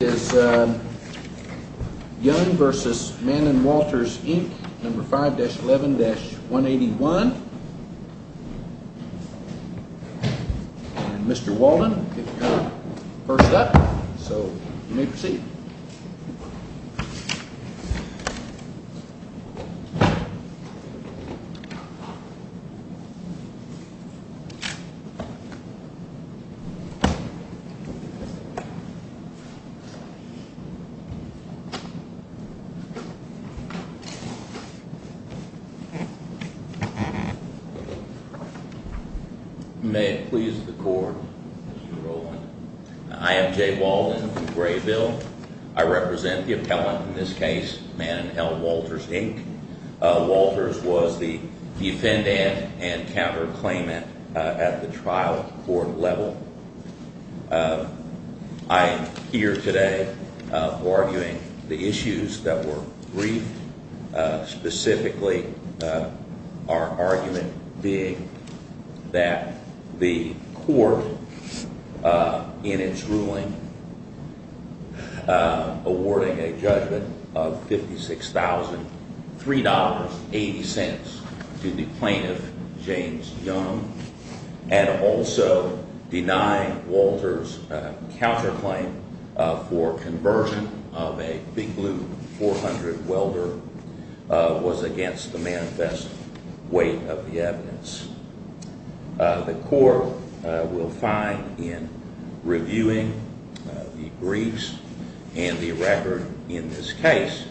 is young versus Mann and Walters Inc. Number 5-11-181. Mr. Walden first up, so you may proceed. May it please the court, Mr. Rowland. I am Jay Walden from Graybill. I represent the appellant in this case, Mann and L. Walters Inc. Walters was the defendant and counterclaimant at the trial court level. I am here today arguing the issues that were briefed, specifically our argument being that the court in its ruling awarding a judgment of $56,000, $3.80 to the plaintiff, James Young, and also denying Walters' counterclaim for conversion of a Big Blue 400 welder was against the manifest weight of the evidence. The court will find in reviewing the briefs and the record in this case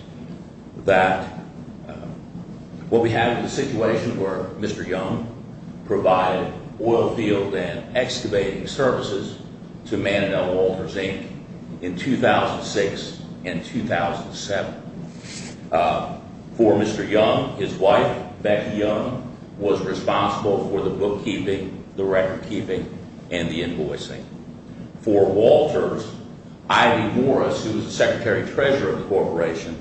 that what we have is a situation where Mr. Young provided oil field and excavating services to Mann and L. Walters Inc. in 2006 and 2007. For Mr. Young, his wife, Becky Young, was responsible for the bookkeeping, the record keeping, and the invoicing. For Walters, Ivy Morris, who was the secretary treasurer of the corporation,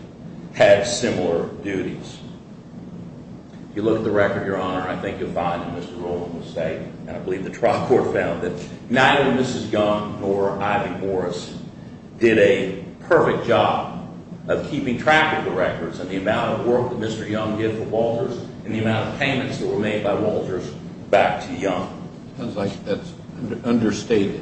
had similar duties. If you look at the record, Your Honor, I think you'll find that Mr. Rowland was safe. And I believe the trial court found that neither Mrs. Young nor Ivy Morris did a perfect job of keeping track of the records and the amount of work that Mr. Young did for Walters and the amount of payments that were made by Walters back to Young. It sounds like that's understated.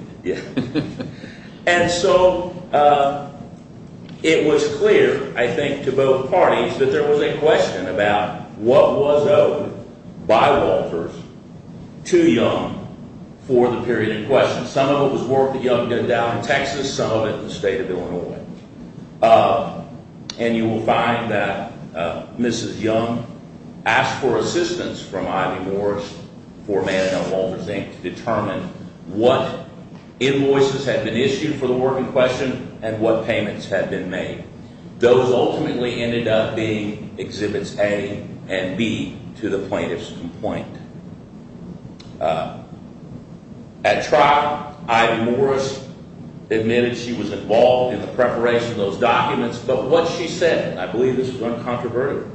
to determine what invoices had been issued for the work in question and what payments had been made. Those ultimately ended up being Exhibits A and B to the plaintiff's complaint. At trial, Ivy Morris admitted she was involved in the preparation of those documents, but what she said, and I believe this was uncontroverted,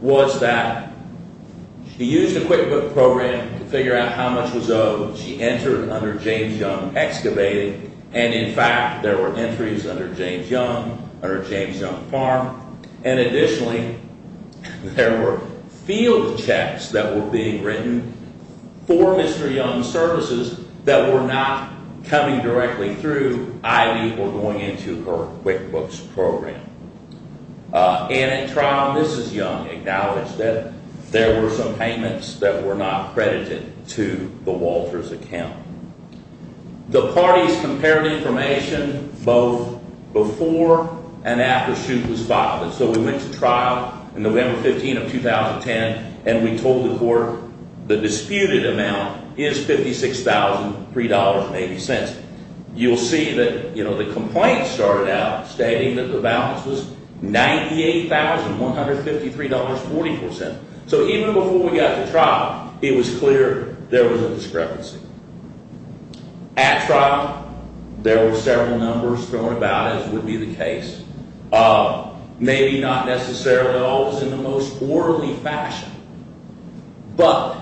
was that she used a QuickBook program to figure out how much was owed. She entered under James Young Excavated, and in fact, there were entries under James Young, under James Young Farm, and additionally, there were field checks that were being written for Mr. Young's services that were not coming directly through Ivy or going into her QuickBooks program. And at trial, Mrs. Young acknowledged that there were some payments that were not credited to the Walters account. The parties compared information both before and after Shute was filed. And so we went to trial on November 15 of 2010, and we told the court the disputed amount is $56,003.80. You'll see that the complaint started out stating that the balance was $98,153.40. So even before we got to trial, it was clear there was a discrepancy. At trial, there were several numbers thrown about, as would be the case. Maybe not necessarily always in the most orderly fashion, but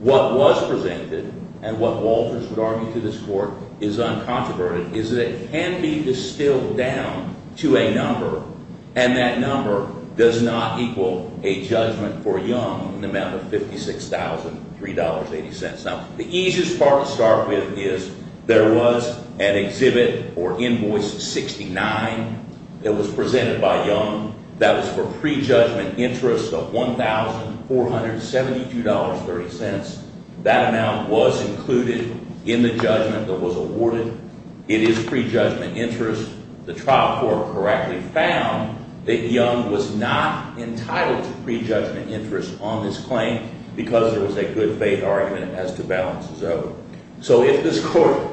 what was presented and what Walters would argue to this court is uncontroverted, is that it can be distilled down to a number, and that number does not equal a judgment for Young in the amount of $56,003.80. Now, the easiest part to start with is there was an exhibit or invoice 69 that was presented by Young that was for prejudgment interest of $1,472.30. That amount was included in the judgment that was awarded. It is prejudgment interest. The trial court correctly found that Young was not entitled to prejudgment interest on this claim because there was a good faith argument as to balance is over. So if this court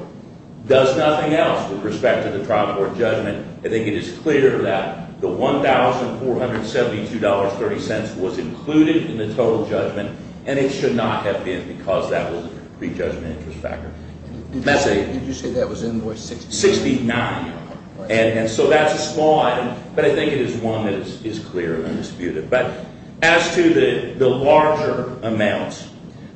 does nothing else with respect to the trial court judgment, I think it is clear that the $1,472.30 was included in the total judgment, and it should not have been because that was a prejudgment interest factor. Did you say that was invoice 69? And so that's a small item, but I think it is one that is clear and undisputed. But as to the larger amounts,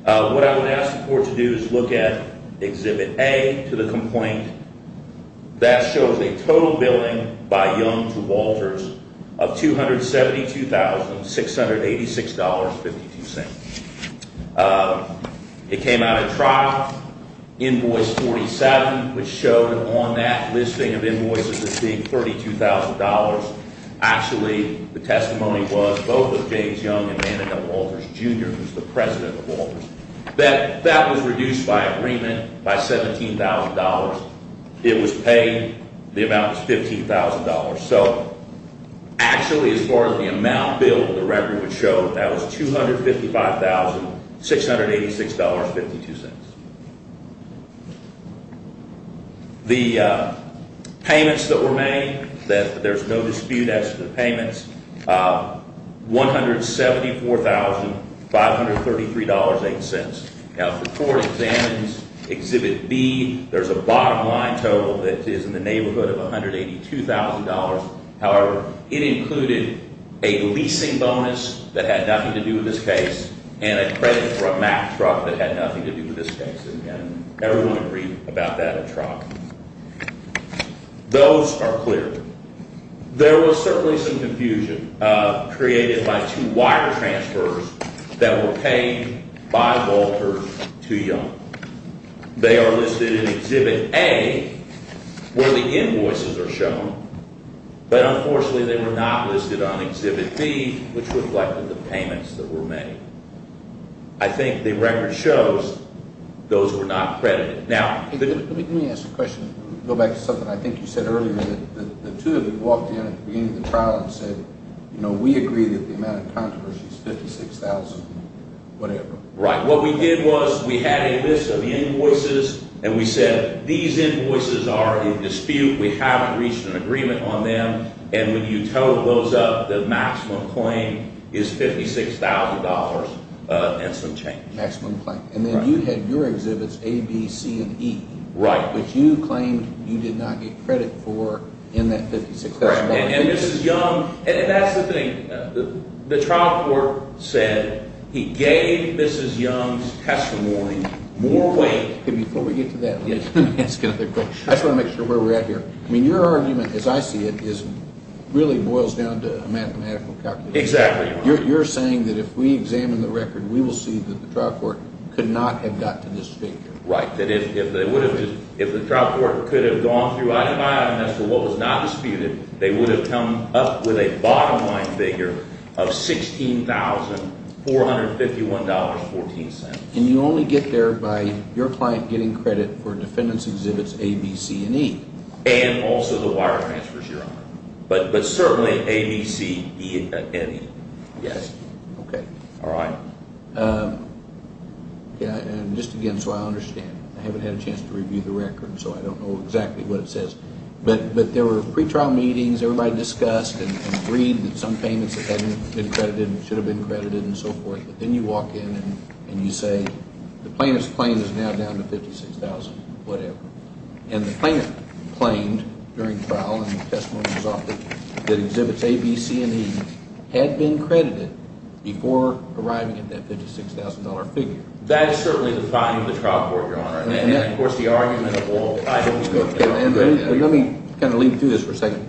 what I would ask the court to do is look at exhibit A to the complaint. That shows a total billing by Young to Walters of $272,686.52. It came out of trial. Invoice 47, which showed on that listing of invoices as being $32,000. Actually, the testimony was both of James Young and Annika Walters, Jr., who is the president of Walters. That was reduced by agreement by $17,000. It was paid. The amount was $15,000. So actually, as far as the amount billed, the record would show that was $255,686.52. The payments that were made, there's no dispute as to the payments, $174,533.08. Now, if the court examines exhibit B, there's a bottom line total that is in the neighborhood of $182,000. However, it included a leasing bonus that had nothing to do with this case and a credit for a Mack truck that had nothing to do with this case. And everyone agreed about that truck. Those are clear. There was certainly some confusion created by two wire transfers that were paid by Walters to Young. They are listed in exhibit A where the invoices are shown. But unfortunately, they were not listed on exhibit B, which reflected the payments that were made. I think the record shows those were not credited. Let me ask a question. Go back to something I think you said earlier. The two of you walked in at the beginning of the trial and said, you know, we agree that the amount of controversy is $56,000, whatever. Right. What we did was we had a list of invoices, and we said these invoices are in dispute. We haven't reached an agreement on them. And when you total those up, the maximum claim is $56,000 and some change. Maximum claim. And then you had your exhibits A, B, C, and E. Right. Which you claimed you did not get credit for in that $56,000. And Mrs. Young, that's the thing. The trial court said he gave Mrs. Young's testimony more weight. Before we get to that, let me ask another question. I just want to make sure where we're at here. I mean, your argument, as I see it, really boils down to a mathematical calculation. Exactly. You're saying that if we examine the record, we will see that the trial court could not have got to this figure. Right, that if the trial court could have gone through item by item as to what was not disputed, they would have come up with a bottom line figure of $16,451.14. And you only get there by your client getting credit for defendants' exhibits A, B, C, and E. And also the wire transfers, Your Honor. But certainly A, B, C, E, and E. Yes. Okay. All right. Just again, so I understand. I haven't had a chance to review the record, so I don't know exactly what it says. But there were pretrial meetings. Everybody discussed and agreed that some payments that hadn't been credited should have been credited and so forth. But then you walk in and you say the plaintiff's claim is now down to $56,000 or whatever. And the plaintiff claimed during trial in the testimony that was offered that exhibits A, B, C, and E had been credited before arriving at that $56,000 figure. That is certainly the volume of the trial court, Your Honor. And, of course, the argument of all types. Let me kind of lead through this for a second.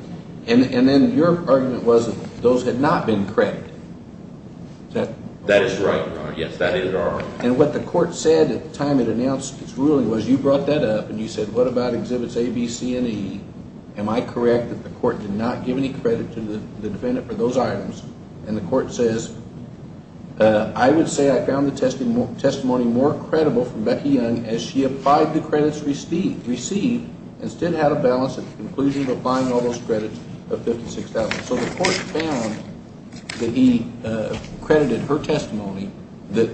And then your argument was that those had not been credited. That is right, Your Honor. Yes, that is our argument. And what the court said at the time it announced its ruling was you brought that up and you said, What about exhibits A, B, C, and E? Am I correct that the court did not give any credit to the defendant for those items? And the court says, I would say I found the testimony more credible from Becky Young as she applied the credits received and still had a balance at the conclusion of applying all those credits of $56,000. So the court found that he credited her testimony that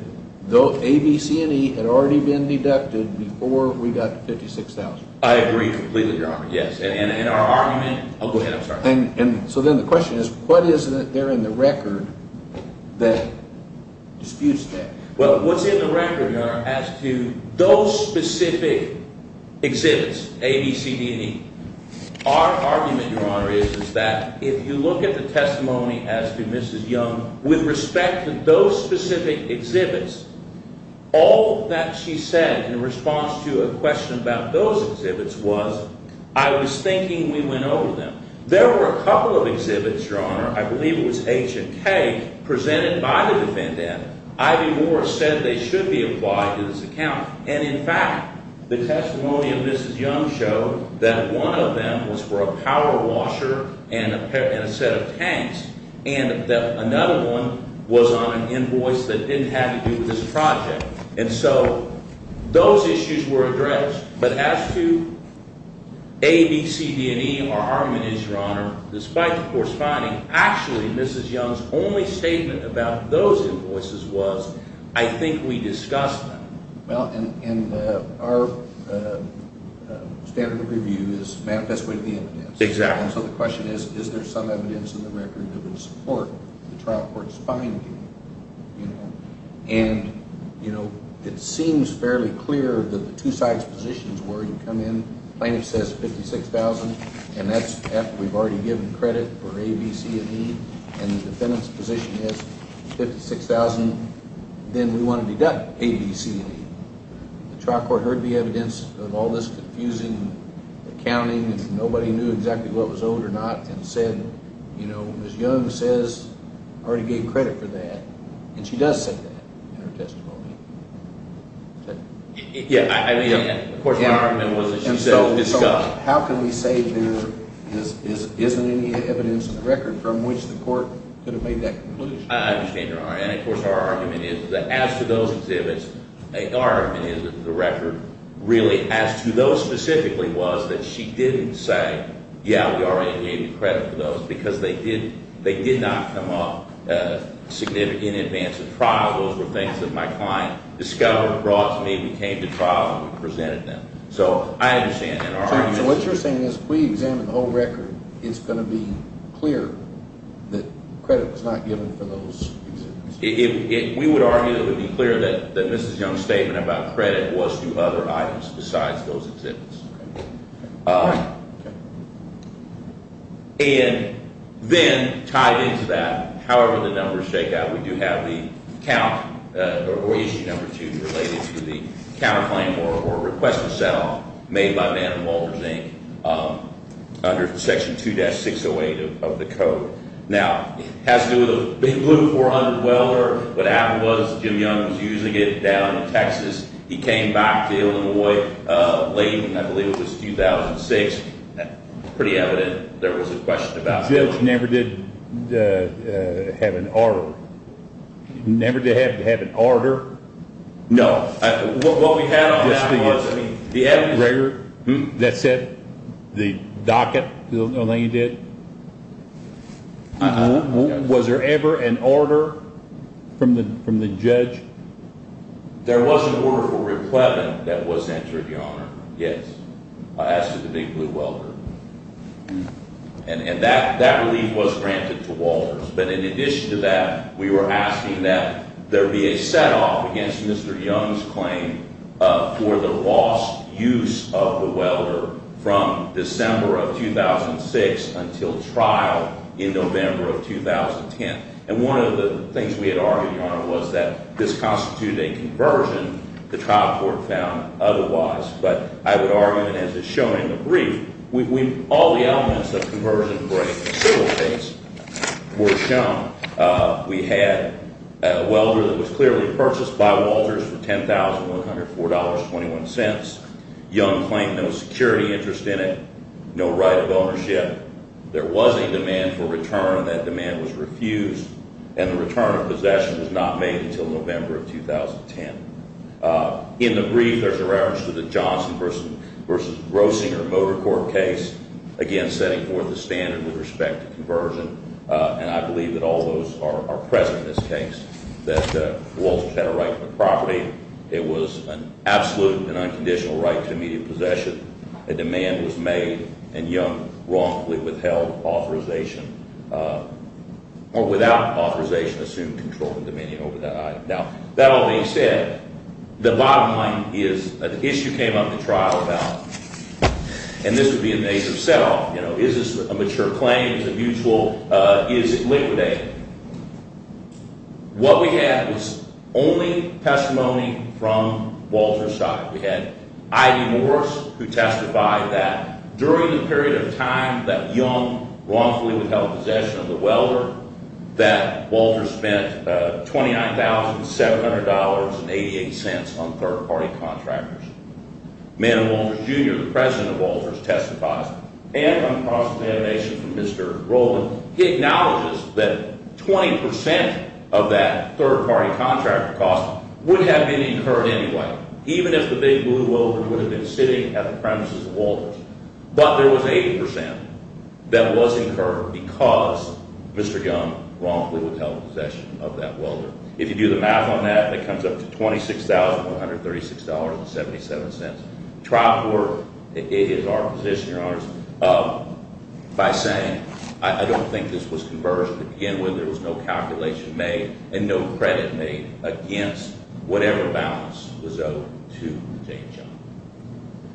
A, B, C, and E had already been deducted before we got to $56,000. I agree completely, Your Honor. Yes. And our argument. I'll go ahead. I'm sorry. So then the question is, what is there in the record that disputes that? Well, what's in the record, Your Honor, as to those specific exhibits, A, B, C, D, and E, our argument, Your Honor, is that if you look at the testimony as to Mrs. Young, with respect to those specific exhibits, all that she said in response to a question about those exhibits was, I was thinking we went over them. There were a couple of exhibits, Your Honor, I believe it was H and K, presented by the defendant. Ivy Moore said they should be applied to this account. And, in fact, the testimony of Mrs. Young showed that one of them was for a power washer and a set of tanks, and that another one was on an invoice that didn't have to do with this project. And so those issues were addressed. But as to A, B, C, D, and E, our argument is, Your Honor, despite the court's finding, actually Mrs. Young's only statement about those invoices was, I think we discussed them. Well, and our standard of review is manifest within the evidence. Exactly. And so the question is, is there some evidence in the record that would support the trial court's finding? And, you know, it seems fairly clear that the two sides' positions were you come in, plaintiff says $56,000, and that's after we've already given credit for A, B, C, and E, and the defendant's position is $56,000, then we want to deduct A, B, C, and E. The trial court heard the evidence of all this confusing accounting, and nobody knew exactly what was owed or not, and said, you know, Mrs. Young says I already gave credit for that, and she does say that in her testimony. Yeah, I mean, of course, our argument was that she said it was discussed. How can we say there isn't any evidence in the record from which the court could have made that conclusion? I understand your argument. And, of course, our argument is that as to those exhibits, our argument is that the record really, as to those specifically, was that she didn't say, yeah, we already gave you credit for those, because they did not come up in advance of trial. Those were things that my client discovered, brought to me, we came to trial, and we presented them. So I understand that argument. So what you're saying is if we examine the whole record, it's going to be clear that credit was not given for those exhibits. We would argue that it would be clear that Mrs. Young's statement about credit was to other items besides those exhibits. And then tied into that, however the numbers shake out, we do have the count or Issue Number 2 related to the counterclaim or request for set-off made by Mann and Walters, Inc., under Section 2-608 of the code. Now, it has to do with a big blue 400 welder. What happened was Jim Young was using it down in Texas. He came back to Illinois late in, I believe it was 2006. Pretty evident there was a question about that. The judge never did have an order. He never did have to have an order? No. What we had on that was the evidence. The record that said the docket, the thing he did? Was there ever an order from the judge? There was an order for Riplevin that was entered, Your Honor. Yes. I asked for the big blue welder. And that relief was granted to Walters. But in addition to that, we were asking that there be a set-off against Mr. Young's claim for the lost use of the welder from December of 2006 until trial in November of 2010. And one of the things we had argued, Your Honor, was that this constituted a conversion. The trial court found otherwise. But I would argue that as it's shown in the brief, all the elements of conversion for a civil case were shown. We had a welder that was clearly purchased by Walters for $10,104.21. Young claimed no security interest in it, no right of ownership. There was a demand for return. That demand was refused, and the return of possession was not made until November of 2010. In the brief, there's a reference to the Johnson v. Roesinger motor court case, again, setting forth a standard with respect to conversion. And I believe that all those are present in this case, that Walters had a right to the property. It was an absolute and unconditional right to immediate possession. A demand was made, and Young wrongfully withheld authorization or without authorization assumed control of the dominion over that item. Now, that all being said, the bottom line is an issue came up at trial about, and this would be a major set off, you know, is this a mature claim? Is it mutual? Is it liquidated? What we had was only testimony from Walters' side. We had I.D. Morris who testified that during the period of time that Young wrongfully withheld possession of the welder, that Walters spent $29,700.88 on third-party contractors. Manning Walters, Jr., the president of Walters, testified. And on cross-examination from Mr. Rowland, he acknowledges that 20% of that third-party contractor cost would have been incurred anyway, even if the big blue welders would have been sitting at the premises of Walters. But there was 80% that was incurred because Mr. Young wrongfully withheld possession of that welder. If you do the math on that, it comes up to $26,136.77. Trial court, it is our position, Your Honors, by saying I don't think this was converged. To begin with, there was no calculation made and no credit made against whatever balance was owed to James Young.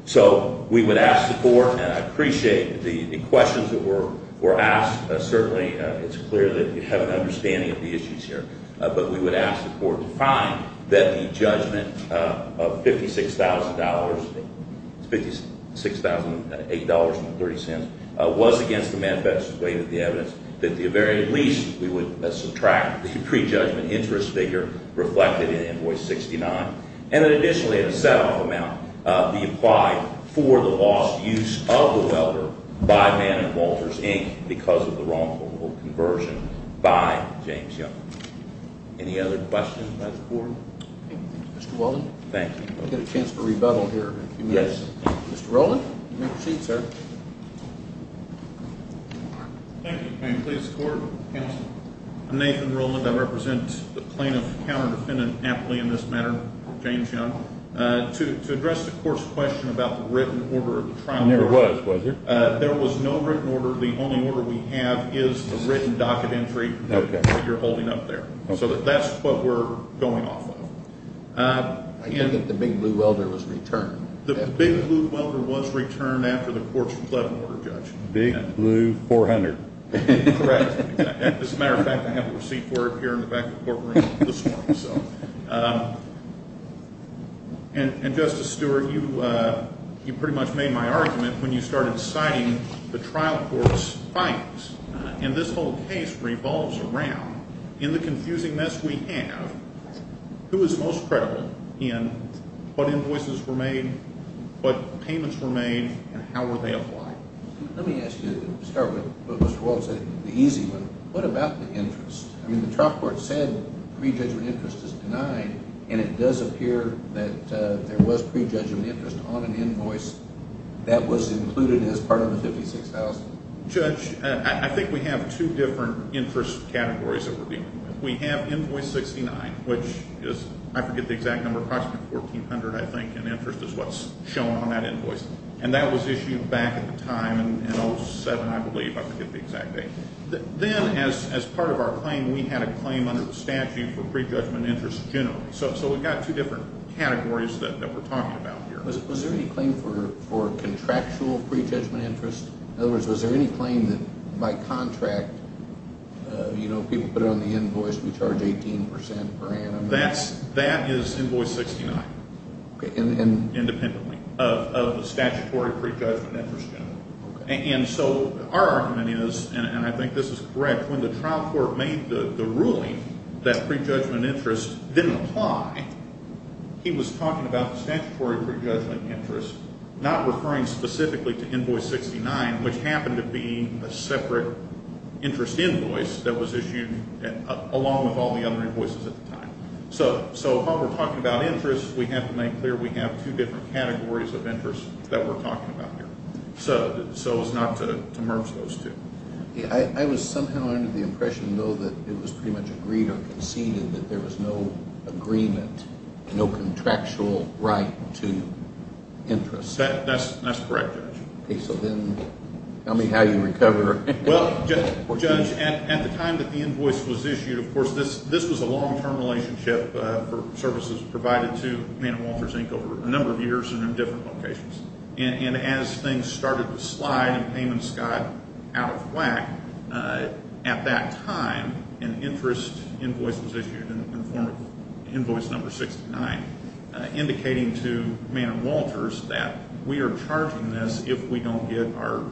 So we would ask support, and I appreciate the questions that were asked. Certainly, it's clear that you have an understanding of the issues here. But we would ask the court to find that the judgment of $56,000, $56,008.30 was against the manifesto's weight of the evidence, that at the very least, we would subtract the prejudgment interest figure reflected in invoice 69, and then additionally, a set-off amount be applied for the lost use of the welder by Mann and Walters, Inc., because of the wrongful conversion by James Young. Any other questions by the board? Thank you, Mr. Whelan. Thank you. We'll get a chance to rebuttal here in a few minutes. Yes. Mr. Rowland, you may proceed, sir. Thank you. Can I please support counsel? I'm Nathan Rowland. I represent the plaintiff counter-defendant aptly in this matter, James Young. To address the court's question about the written order of the trial order. There was, was there? There was no written order. The only order we have is the written docket entry that you're holding up there. So that's what we're going off of. I hear that the Big Blue Welder was returned. The Big Blue Welder was returned after the court's 11-order judgment. Big Blue 400. Correct. As a matter of fact, I have a receipt for it here in the back of the courtroom this morning. And, Justice Stewart, you pretty much made my argument when you started citing the trial court's fines. And this whole case revolves around, in the confusing mess we have, who is most credible in what invoices were made, what payments were made, and how were they applied? Let me ask you to start with what Mr. Walt said, the easy one. What about the interest? I mean, the trial court said prejudgment interest is denied, and it does appear that there was prejudgment interest on an invoice that was included as part of the $56,000. Judge, I think we have two different interest categories that we're dealing with. We have invoice 69, which is, I forget the exact number, approximately $1,400, I think, in interest is what's shown on that invoice. And that was issued back at the time in 07, I believe, I forget the exact date. Then, as part of our claim, we had a claim under the statute for prejudgment interest generally. So we've got two different categories that we're talking about here. Was there any claim for contractual prejudgment interest? In other words, was there any claim that by contract, you know, people put it on the invoice, we charge 18% per annum? That is invoice 69 independently of the statutory prejudgment interest generally. And so our argument is, and I think this is correct, when the trial court made the ruling that prejudgment interest didn't apply, he was talking about the statutory prejudgment interest, not referring specifically to invoice 69, which happened to be a separate interest invoice that was issued along with all the other invoices at the time. So while we're talking about interest, we have to make clear we have two different categories of interest that we're talking about here. So it's not to merge those two. I was somehow under the impression, though, that it was pretty much agreed or conceded that there was no agreement, no contractual right to interest. That's correct, Judge. Okay, so then tell me how you recover. Well, Judge, at the time that the invoice was issued, of course, this was a long-term relationship for services provided to Man and Walters, Inc. over a number of years and in different locations. And as things started to slide and payments got out of whack, at that time, an interest invoice was issued in the form of invoice number 69, indicating to Man and Walters that we are charging this if we don't get our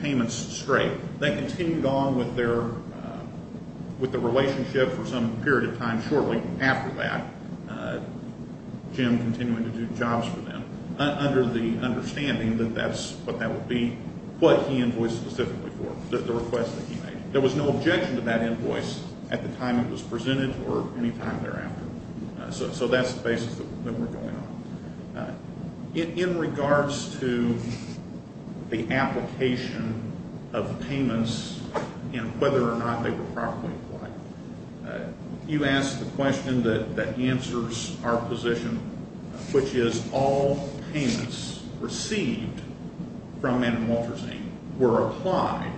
payments straight. They continued on with the relationship for some period of time shortly after that, Jim continuing to do jobs for them, under the understanding that that's what that would be, what he invoiced specifically for, the request that he made. There was no objection to that invoice at the time it was presented or any time thereafter. So that's the basis that we're going on. In regards to the application of payments and whether or not they were properly applied, you asked the question that answers our position, which is all payments received from Man and Walters, Inc. were applied,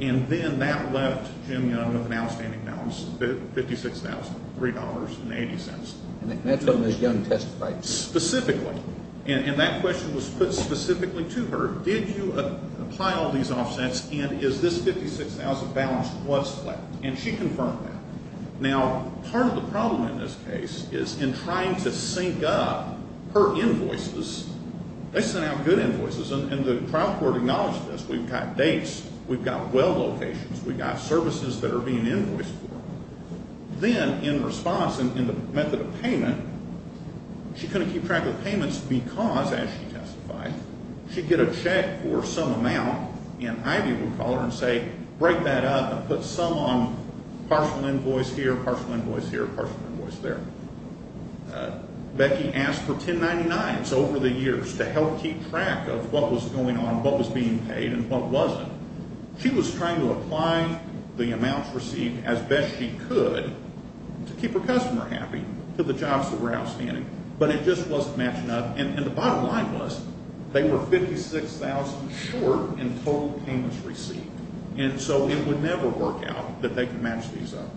and then that left Jim Young with an outstanding balance of $56,003.80. And that's what Ms. Young testified to. Specifically. And that question was put specifically to her. Did you apply all these offsets and is this $56,000 balance was flat? And she confirmed that. Now, part of the problem in this case is in trying to sync up her invoices, they sent out good invoices, and the trial court acknowledged this. We've got dates. We've got well locations. We've got services that are being invoiced for. Then, in response, in the method of payment, she couldn't keep track of the payments because, as she testified, she'd get a check for some amount, and Ivy would call her and say, break that up and put some on partial invoice here, partial invoice here, partial invoice there. Becky asked for 1099s over the years to help keep track of what was going on, what was being paid, and what wasn't. She was trying to apply the amounts received as best she could to keep her customer happy, to the jobs that were outstanding, but it just wasn't matching up. And the bottom line was they were $56,000 short in total payments received, and so it would never work out that they could match these up.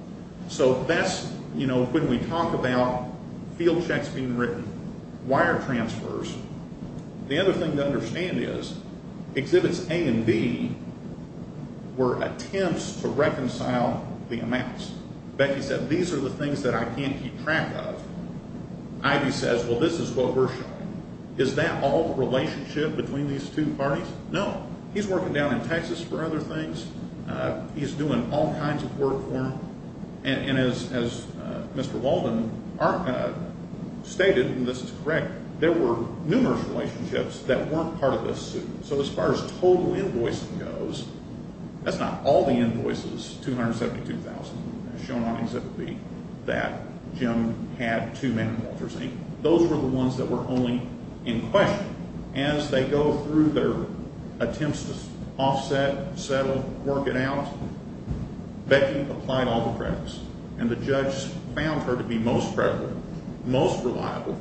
So that's when we talk about field checks being written, wire transfers. The other thing to understand is Exhibits A and B were attempts to reconcile the amounts. Becky said, these are the things that I can't keep track of. Ivy says, well, this is what we're showing. Is that all the relationship between these two parties? No. He's working down in Texas for other things. He's doing all kinds of work for them. And as Mr. Walden stated, and this is correct, there were numerous relationships that weren't part of this suit. So as far as total invoicing goes, that's not all the invoices, 272,000 shown on Exhibit B, that Jim had two men in Walter's name. Those were the ones that were only in question. As they go through their attempts to offset, settle, work it out, Becky applied all the credits, and the judge found her to be most credible, most reliable.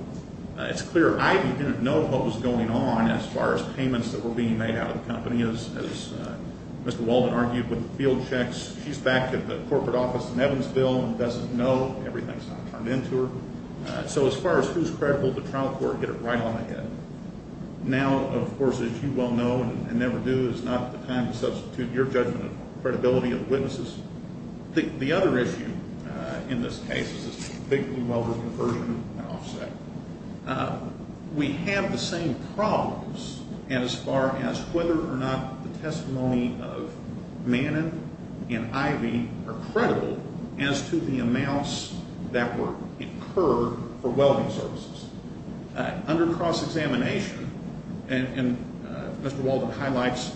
It's clear Ivy didn't know what was going on as far as payments that were being made out of the company. As Mr. Walden argued with the field checks, she's back at the corporate office in Evansville and doesn't know, everything's not turned into her. So as far as who's credible, the trial court hit it right on the head. Now, of course, as you well know and never do, it's not the time to substitute your judgment of credibility of witnesses. The other issue in this case is this big blue welder conversion and offset. We have the same problems as far as whether or not the testimony of Manin and Ivy are credible as to the amounts that were incurred for welding services. Under cross-examination, and Mr. Walden highlights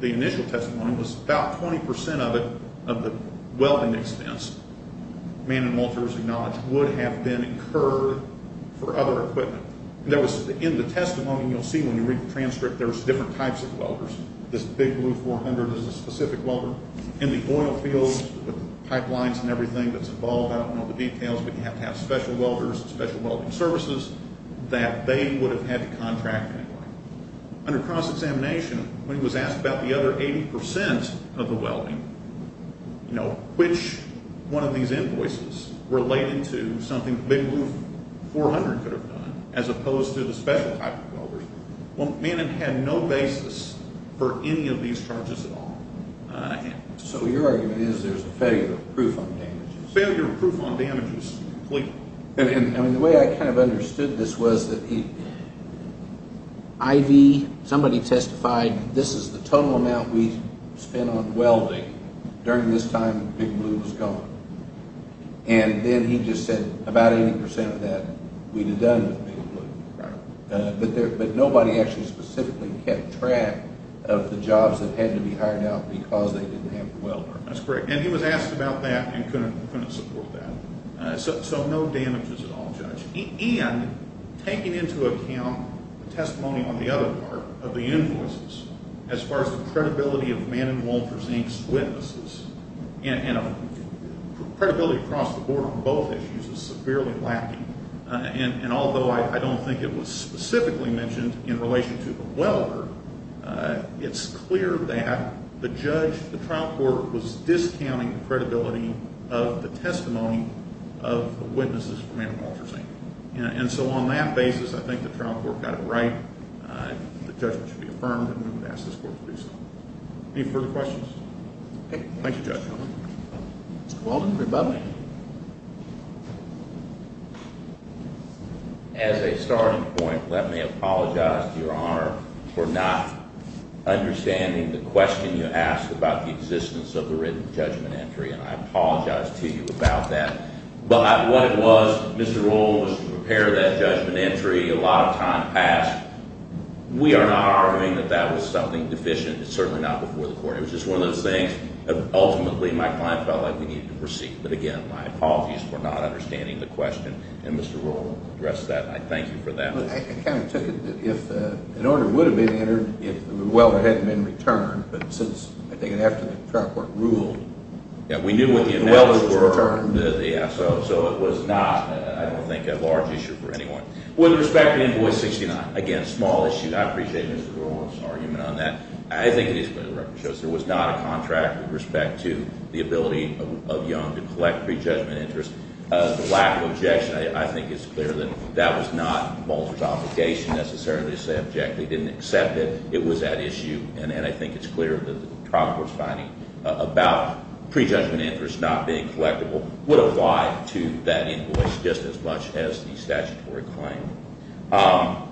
the initial testimony, was about 20% of it, of the welding expense, Manin and Walter's acknowledged, would have been incurred for other equipment. In the testimony, you'll see when you read the transcript, there's different types of welders. This big blue 400 is a specific welder. In the oil fields, pipelines and everything that's involved, I don't know the details, but you have to have special welders, special welding services that they would have had to contract anyway. Under cross-examination, when he was asked about the other 80% of the welding, which one of these invoices related to something the big blue 400 could have done as opposed to the special type of welders, Manin had no basis for any of these charges at all. So your argument is there's a failure of proof on damages? Failure of proof on damages, completely. And the way I kind of understood this was that Ivy, somebody testified, this is the total amount we spent on welding during this time the big blue was gone. And then he just said about 80% of that we'd have done with big blue. But nobody actually specifically kept track of the jobs that had to be hired out because they didn't have the welder. That's correct. And he was asked about that and couldn't support that. So no damages at all, Judge. And taking into account the testimony on the other part of the invoices, as far as the credibility of Manin, Wolters, Inc.'s witnesses, and credibility across the board on both issues is severely lacking. And although I don't think it was specifically mentioned in relation to the welder, it's clear that the judge, the trial court, was discounting the credibility of the testimony of the witnesses for Manin, Wolters, Inc. And so on that basis, I think the trial court got it right, the judgment should be affirmed, and we would ask this court to do so. Any further questions? Thank you, Judge. Mr. Walden, rebuttal. As a starting point, let me apologize, Your Honor, for not understanding the question you asked about the existence of the written judgment entry, and I apologize to you about that. But what it was, Mr. Walden, was to prepare that judgment entry. A lot of time passed. We are not arguing that that was something deficient. It's certainly not before the court. It was just one of those things. Ultimately, my client felt like we needed to proceed. But, again, my apologies for not understanding the question. And Mr. Rowland addressed that, and I thank you for that. I kind of took it that if an order would have been entered if the welder hadn't been returned, but since, I think, after the trial court ruled, the welder was returned. Yeah, we knew what the analysis was, so it was not, I don't think, a large issue for anyone. With respect to Invoice 69, again, a small issue. I appreciate Mr. Rowland's argument on that. I think it is clear the record shows there was not a contract with respect to the ability of Young to collect prejudgment interest. The lack of objection, I think, is clear that that was not Bolzer's obligation necessarily to say objectively. He didn't accept it. It was at issue. And I think it's clear that the trial court's finding about prejudgment interest not being collectible would apply to that invoice just as much as the statutory claim.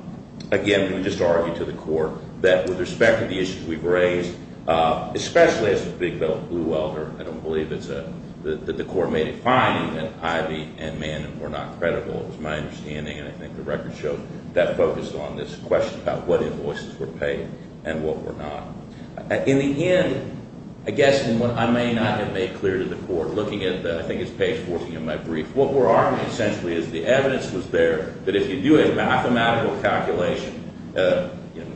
Again, we just argued to the court that with respect to the issues we've raised, especially as a big blue welder, I don't believe that the court made a finding that Ivey and Mann were not credible. It was my understanding, and I think the record showed that focused on this question about what invoices were paid and what were not. In the end, I guess, and what I may not have made clear to the court, looking at, I think, is page 14 of my brief, what we're arguing essentially is the evidence was there that if you do a mathematical calculation,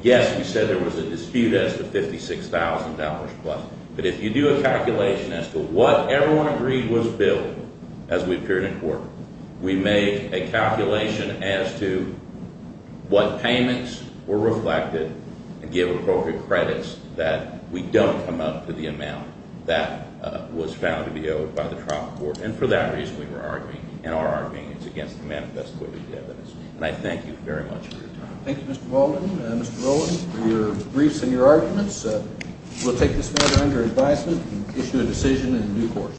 yes, we said there was a dispute as to $56,000 plus, but if you do a calculation as to what everyone agreed was billed as we appeared in court, we made a calculation as to what payments were reflected and gave appropriate credits that we don't come up to the amount that was found to be owed by the trial court. And for that reason, we were arguing. In our argument, it's against the manifesto of the evidence. And I thank you very much for your time. Thank you, Mr. Baldwin and Mr. Rowland, for your briefs and your arguments. We'll take this matter under advisement and issue a decision in due course.